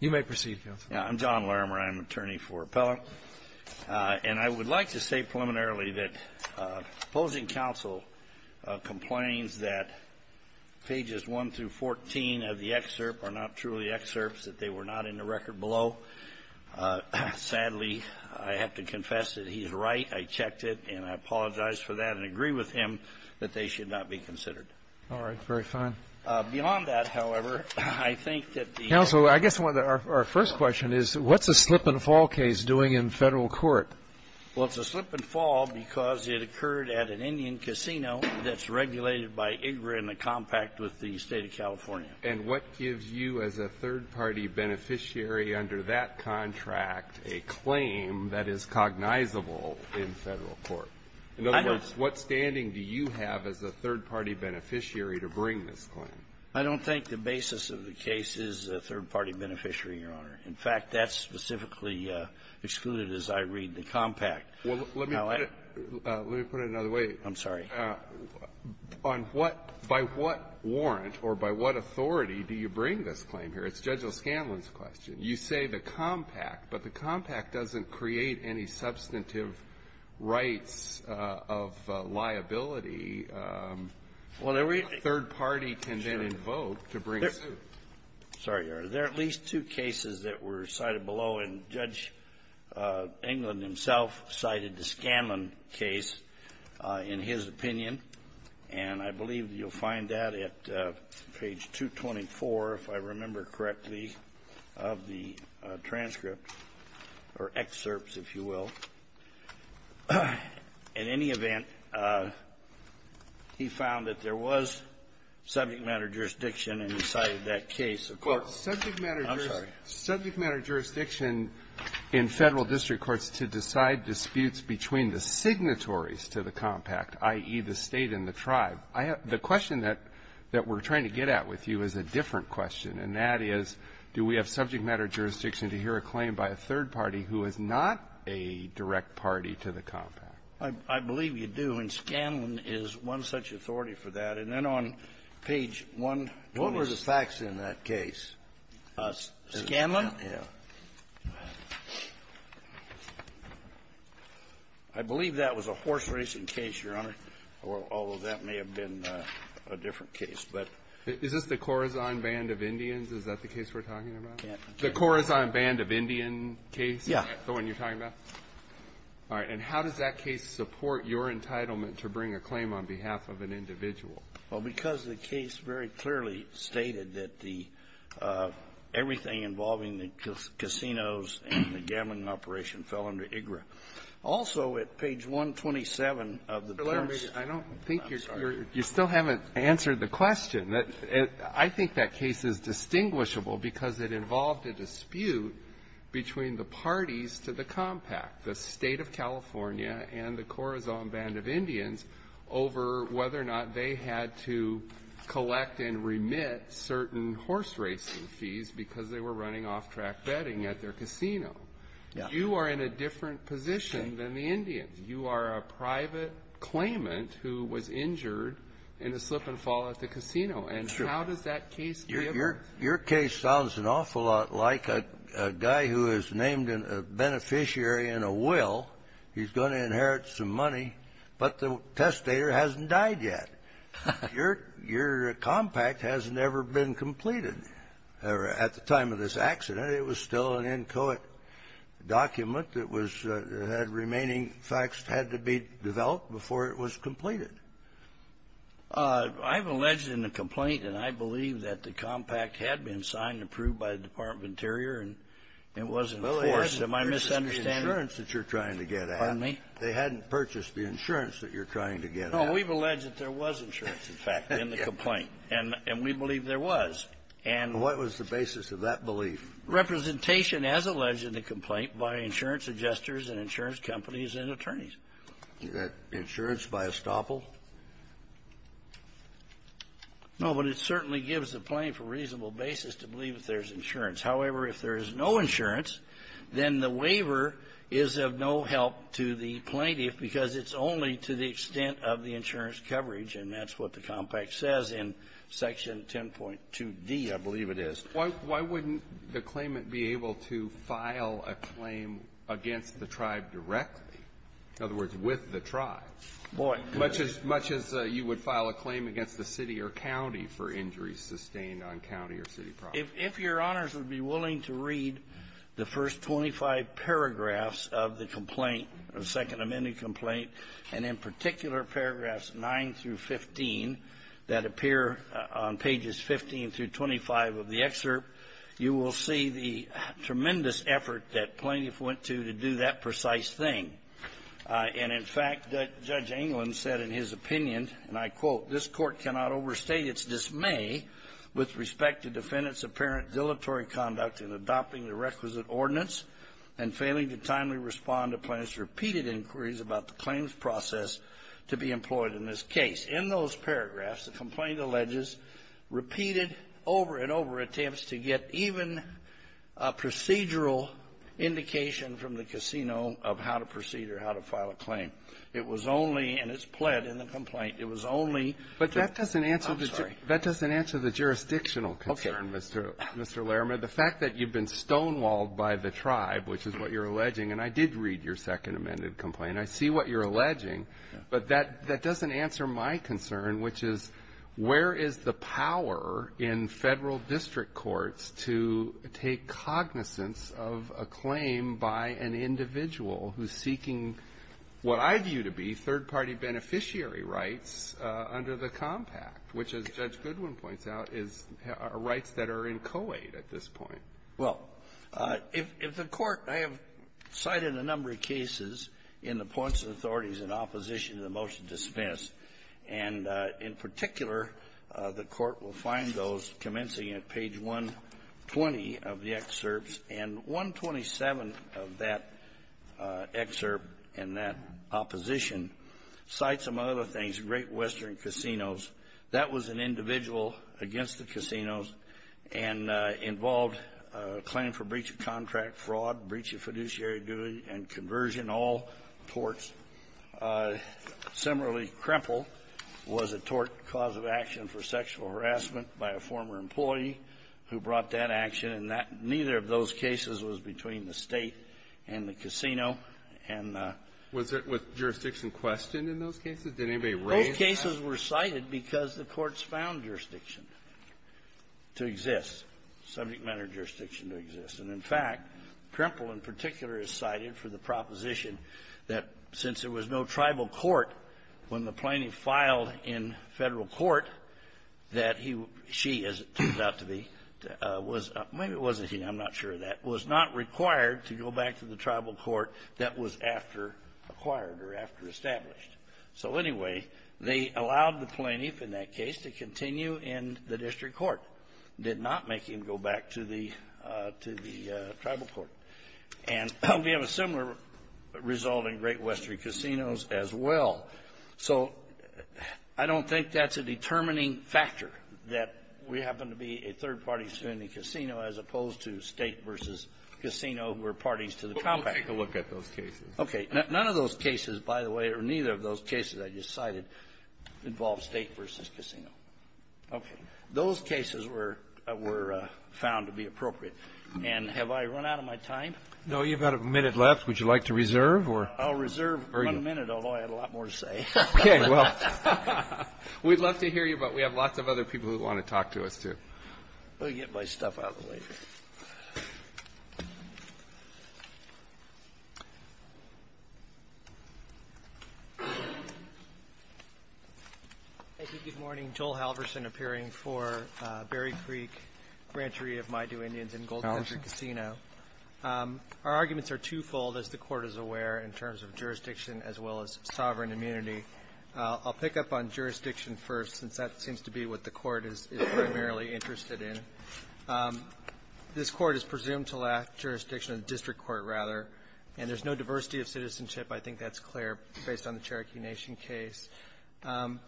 You may proceed, counsel. I'm John Larimer. I'm an attorney for Appellant. And I would like to say preliminarily that opposing counsel complains that pages 1 through 14 of the excerpt are not truly excerpts, that they were not in the record below. Sadly, I have to confess that he is right. I checked it, and I apologize for that and agree with him that they should not be considered. All right. Very fine. Beyond that, however, I think that the ---- Counsel, I guess our first question is what's a slip-and-fall case doing in federal court? Well, it's a slip-and-fall because it occurred at an Indian casino that's regulated by IGRA in the compact with the State of California. And what gives you as a third-party beneficiary under that contract a claim that is cognizable in federal court? In other words, what standing do you have as a third-party beneficiary to bring this claim? I don't think the basis of the case is a third-party beneficiary, Your Honor. In fact, that's specifically excluded as I read the compact. Well, let me put it another way. I'm sorry. On what by what warrant or by what authority do you bring this claim here? It's Judge O'Scanlan's question. You say the compact, but the compact doesn't create any substantive rights of liability that a third-party can then invoke to bring suit. Sorry, Your Honor. There are at least two cases that were cited below, and Judge England himself cited the O'Scanlan case in his opinion, and I believe you'll find that at page 224, if I remember correctly, of the transcript or excerpts, if you will. In any event, he found that there was subject matter jurisdiction inside of that case. Of course, subject matter jurisdiction in federal district courts to decide disputes between the signatories to the compact, i.e., the State and the tribe. I have the question that we're trying to get at with you is a different question, and that is, do we have subject matter jurisdiction to hear a claim by a third-party who is not a direct party to the compact? I believe you do, and O'Scanlan is one such authority for that. And then on page 126 of that case, O'Scanlan, I believe that was a horse-racing case, Your Honor, although that may have been a different case. Is this the Corazon Band of Indians, is that the case we're talking about? The Corazon Band of Indian case? Yes. The one you're talking about? All right. And how does that case support your entitlement to bring a claim on behalf of an individual? Well, because the case very clearly stated that everything involving the casinos and the gambling operation fell under IGRA. Also, at page 127 of the terms of the statute of limitations, there was a dispute between the parties to the compact, the State of California and the Corazon Band of Indians, over whether or not they had to collect and remit certain horse-racing fees because they were running off-track betting at their casino. You are in a different position than the Indians. You are a private claimant who was injured in a slip-and-fall at the casino. Sure. And how does that case be of use? Your case sounds an awful lot like a guy who is named a beneficiary in a will. He's going to inherit some money, but the testator hasn't died yet. Your compact has never been completed. At the time of this accident, it was still an accident. The remaining facts had to be developed before it was completed. I've alleged in the complaint, and I believe that the compact had been signed and approved by the Department of Interior, and it wasn't enforced. Am I misunderstanding? Well, there's the insurance that you're trying to get at. Pardon me? They hadn't purchased the insurance that you're trying to get at. No, we've alleged that there was insurance, in fact, in the complaint. And we believe there was. And what was the basis of that belief? Representation, as alleged in the complaint, by insurance adjusters and insurance companies and attorneys. Is that insurance by estoppel? No, but it certainly gives the plaintiff a reasonable basis to believe that there's insurance. However, if there is no insurance, then the waiver is of no help to the plaintiff because it's only to the extent of the insurance coverage, and that's what the compact says in Section 10.2d, I believe it is. Why wouldn't the claimant be able to file a claim against the tribe directly? In other words, with the tribe. Boy. Much as you would file a claim against the city or county for injuries sustained on county or city property. If Your Honors would be willing to read the first 25 paragraphs of the complaint, of the Second Amendment complaint, and in particular, paragraphs 9 through 15 that appear on pages 15 through 25 of the excerpt, you will see the tremendous effort that plaintiff went to to do that precise thing. And in fact, Judge England said in his opinion, and I quote, This court cannot overstate its dismay with respect to defendant's apparent dilatory conduct in adopting the requisite ordinance and failing to timely respond to plaintiff's repeated inquiries about the claims process to be employed in this case. In those paragraphs, the complaint alleges repeated over and over attempts to get even a procedural indication from the casino of how to proceed or how to file a claim. It was only, and it's pled in the complaint, it was only the ---- Breyer. But that doesn't answer the jurisdictional concern, Mr. Larimer. The fact that you've been stonewalled by the tribe, which is what you're alleging and I did read your Second Amendment complaint, I see what you're alleging, but that doesn't answer my concern, which is, where is the power in Federal district courts to take cognizance of a claim by an individual who's seeking what I view to be third-party beneficiary rights under the Compact, which, as Judge Goodwin points out, is rights that are in co-aid at this point. Well, if the Court ---- I have cited a number of cases in the points of authorities in opposition to the motion dismissed, and in particular, the Court will find those commencing at page 120 of the excerpts, and 127 of that excerpt in that opposition cites, among other things, Great Western Casinos. That was an individual against the casinos and involved a claim for breach of contract, fraud, breach of fiduciary duty, and conversion, all courts. Similarly, Kremple was a tort cause of action for sexual harassment by a former employee who brought that action, and that ñ neither of those cases was between the State and the casino, and the ñ Was it with jurisdiction questioned in those cases? Did anybody raise that? Those cases were cited because the courts found jurisdiction to exist, subject-matter jurisdiction to exist. And, in fact, Kremple in particular is cited for the proposition that since there was no tribal court, when the plaintiff filed in Federal court, that he ñ she, as it turns out to be, was ñ maybe it wasnít he, Iím not sure of that ñ was not required to go back to the tribal court that was after acquired or after established. So, anyway, they allowed the plaintiff in that case to continue in the district court, did not make him go back to the ñ to the tribal court. And we have a similar result in Great Western Casinos as well. So I donít think thatís a determining factor that we happen to be a third-party standing casino as opposed to State versus casino who are parties to the contract. But weíll take a look at those cases. Okay. None of those cases, by the way, or neither of those cases I just cited, involve State versus casino. Okay. Those cases were found to be appropriate. And have I run out of my time? No. Youíve got a minute left. Would you like to reserve or ñ Iíll reserve one minute, although I have a lot more to say. Okay. Well, weíd love to hear you, but we have lots of other people who want to talk to us, too. Let me get my stuff out of the way here. Thank you. Good morning. Joel Halverson appearing for Berry Creek Rancheria of Maidu Indians in Gold Country Casino. Halverson. Our arguments are twofold, as the Court is aware, in terms of jurisdiction as well as sovereign immunity. Iíll pick up on jurisdiction first, since that seems to be what the Court is primarily interested in. This Court is presumed to lack jurisdiction in the district court, rather, and thereís no diversity of citizenship. I think thatís clear, based on the Cherokee Nation case.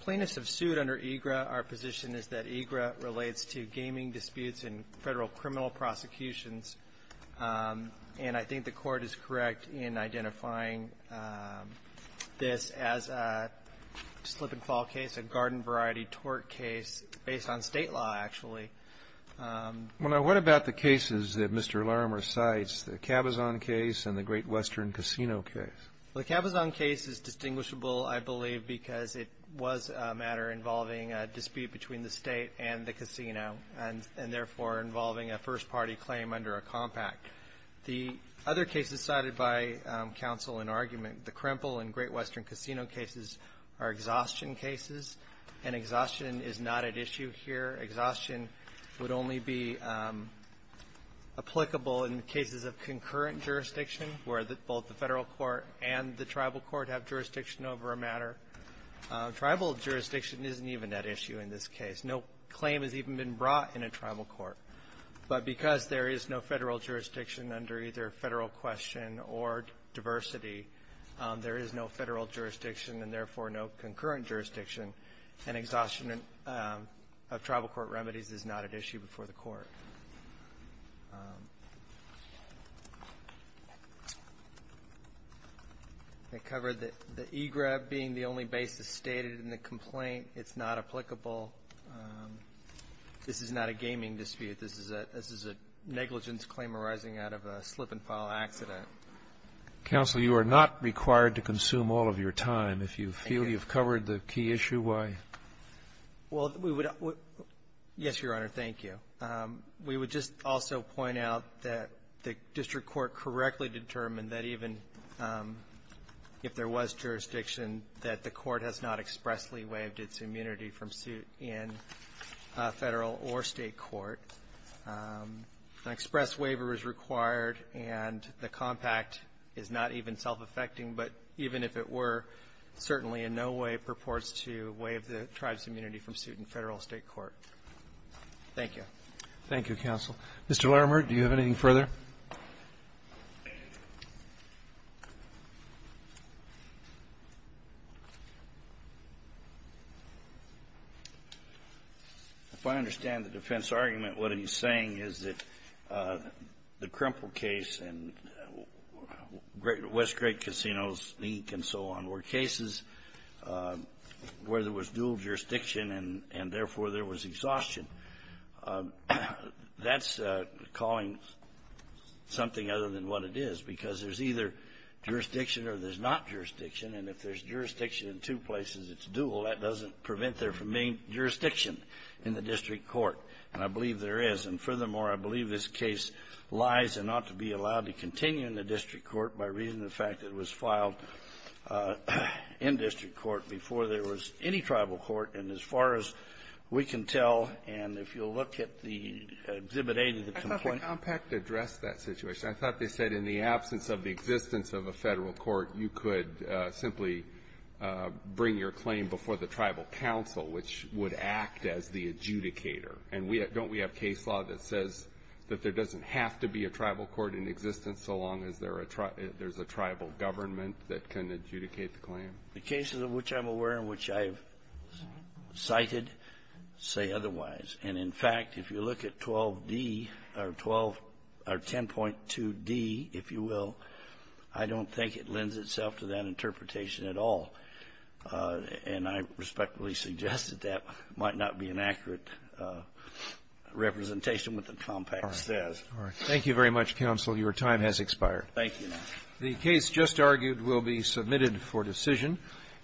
Plaintiffs have sued under EGRA. Our position is that EGRA relates to gaming disputes in Federal criminal prosecutions. And I think the Court is correct in identifying this as a slip-and-fall case, a garden-variety tort case, based on State law, actually. Well, now, what about the cases that Mr. Larimer cites, the Cabazon case and the Great Western Casino case? The Cabazon case is distinguishable, I believe, because it was a matter involving a dispute between the State and the casino, and therefore involving a first-party claim under a compact. The other cases cited by counsel in argument, the Krimple and Great Western Casino cases, are exhaustion cases, and exhaustion is not at issue here. Exhaustion would only be applicable in cases of concurrent jurisdiction, where both the Federal court and the Tribal court have jurisdiction over a matter. Tribal jurisdiction isnít even at issue in this case. No claim has even been brought in a Tribal court. But because there is no Federal jurisdiction under either Federal question or diversity, there is no Federal jurisdiction and, therefore, no concurrent jurisdiction, and exhaustion of Tribal court remedies is not at issue before the Court. I covered the e-grab being the only basis stated in the complaint. Itís not applicable. This is not a gaming dispute. This is a negligence claim arising out of a slip-and-fall accident. Roberts. Counsel, you are not required to consume all of your time. Thank you. If you feel youíve covered the key issue, why? Well, we would ñ yes, Your Honor. Thank you. We would just also point out that the district court correctly determined that even if there was jurisdiction, that the court has not expressly waived its immunity from suit in Federal or State court. An express waiver is required, and the compact is not even self-affecting, but even if it were, certainly in no way purports to waive the tribeís immunity from suit in Federal or State court. Thank you. Thank you, counsel. Mr. Larimer, do you have anything further? If I understand the defense argument, what heís saying is that the Krimple case and West Great Casinoís leak and so on were cases where there was dual jurisdiction and, therefore, there was exhaustion. Thatís calling something other than what it is because thereís either jurisdiction or thereís not jurisdiction, and if thereís jurisdiction in two places, itís dual. That doesnít prevent there from being jurisdiction in the district court, and I believe there is. And, furthermore, I believe this case lies and ought to be allowed to continue in the district court by reason of the fact it was filed in district court before there was any tribal court. And as far as we can tell, and if youíll look at the Exhibit A to the complaintó I thought the compact addressed that situation. I thought they said in the absence of the existence of a Federal court, you could simply bring your claim before the tribal council, which would act as the adjudicator. And we ñ don't we have case law that says that there doesnít have to be a tribal court in existence so long as there are ñ thereís a tribal government that can adjudicate the claim? The cases of which Iím aware and which Iíve cited say otherwise. And, in fact, if you look at 12d or 12 or 10.2d, if you will, I donít think it lends itself to that interpretation at all. And I respectfully suggest that that might not be an accurate representation of what the compact says. All right. Thank you very much, counsel. Your time has expired. Thank you, Your Honor. The case just argued will be submitted for decision.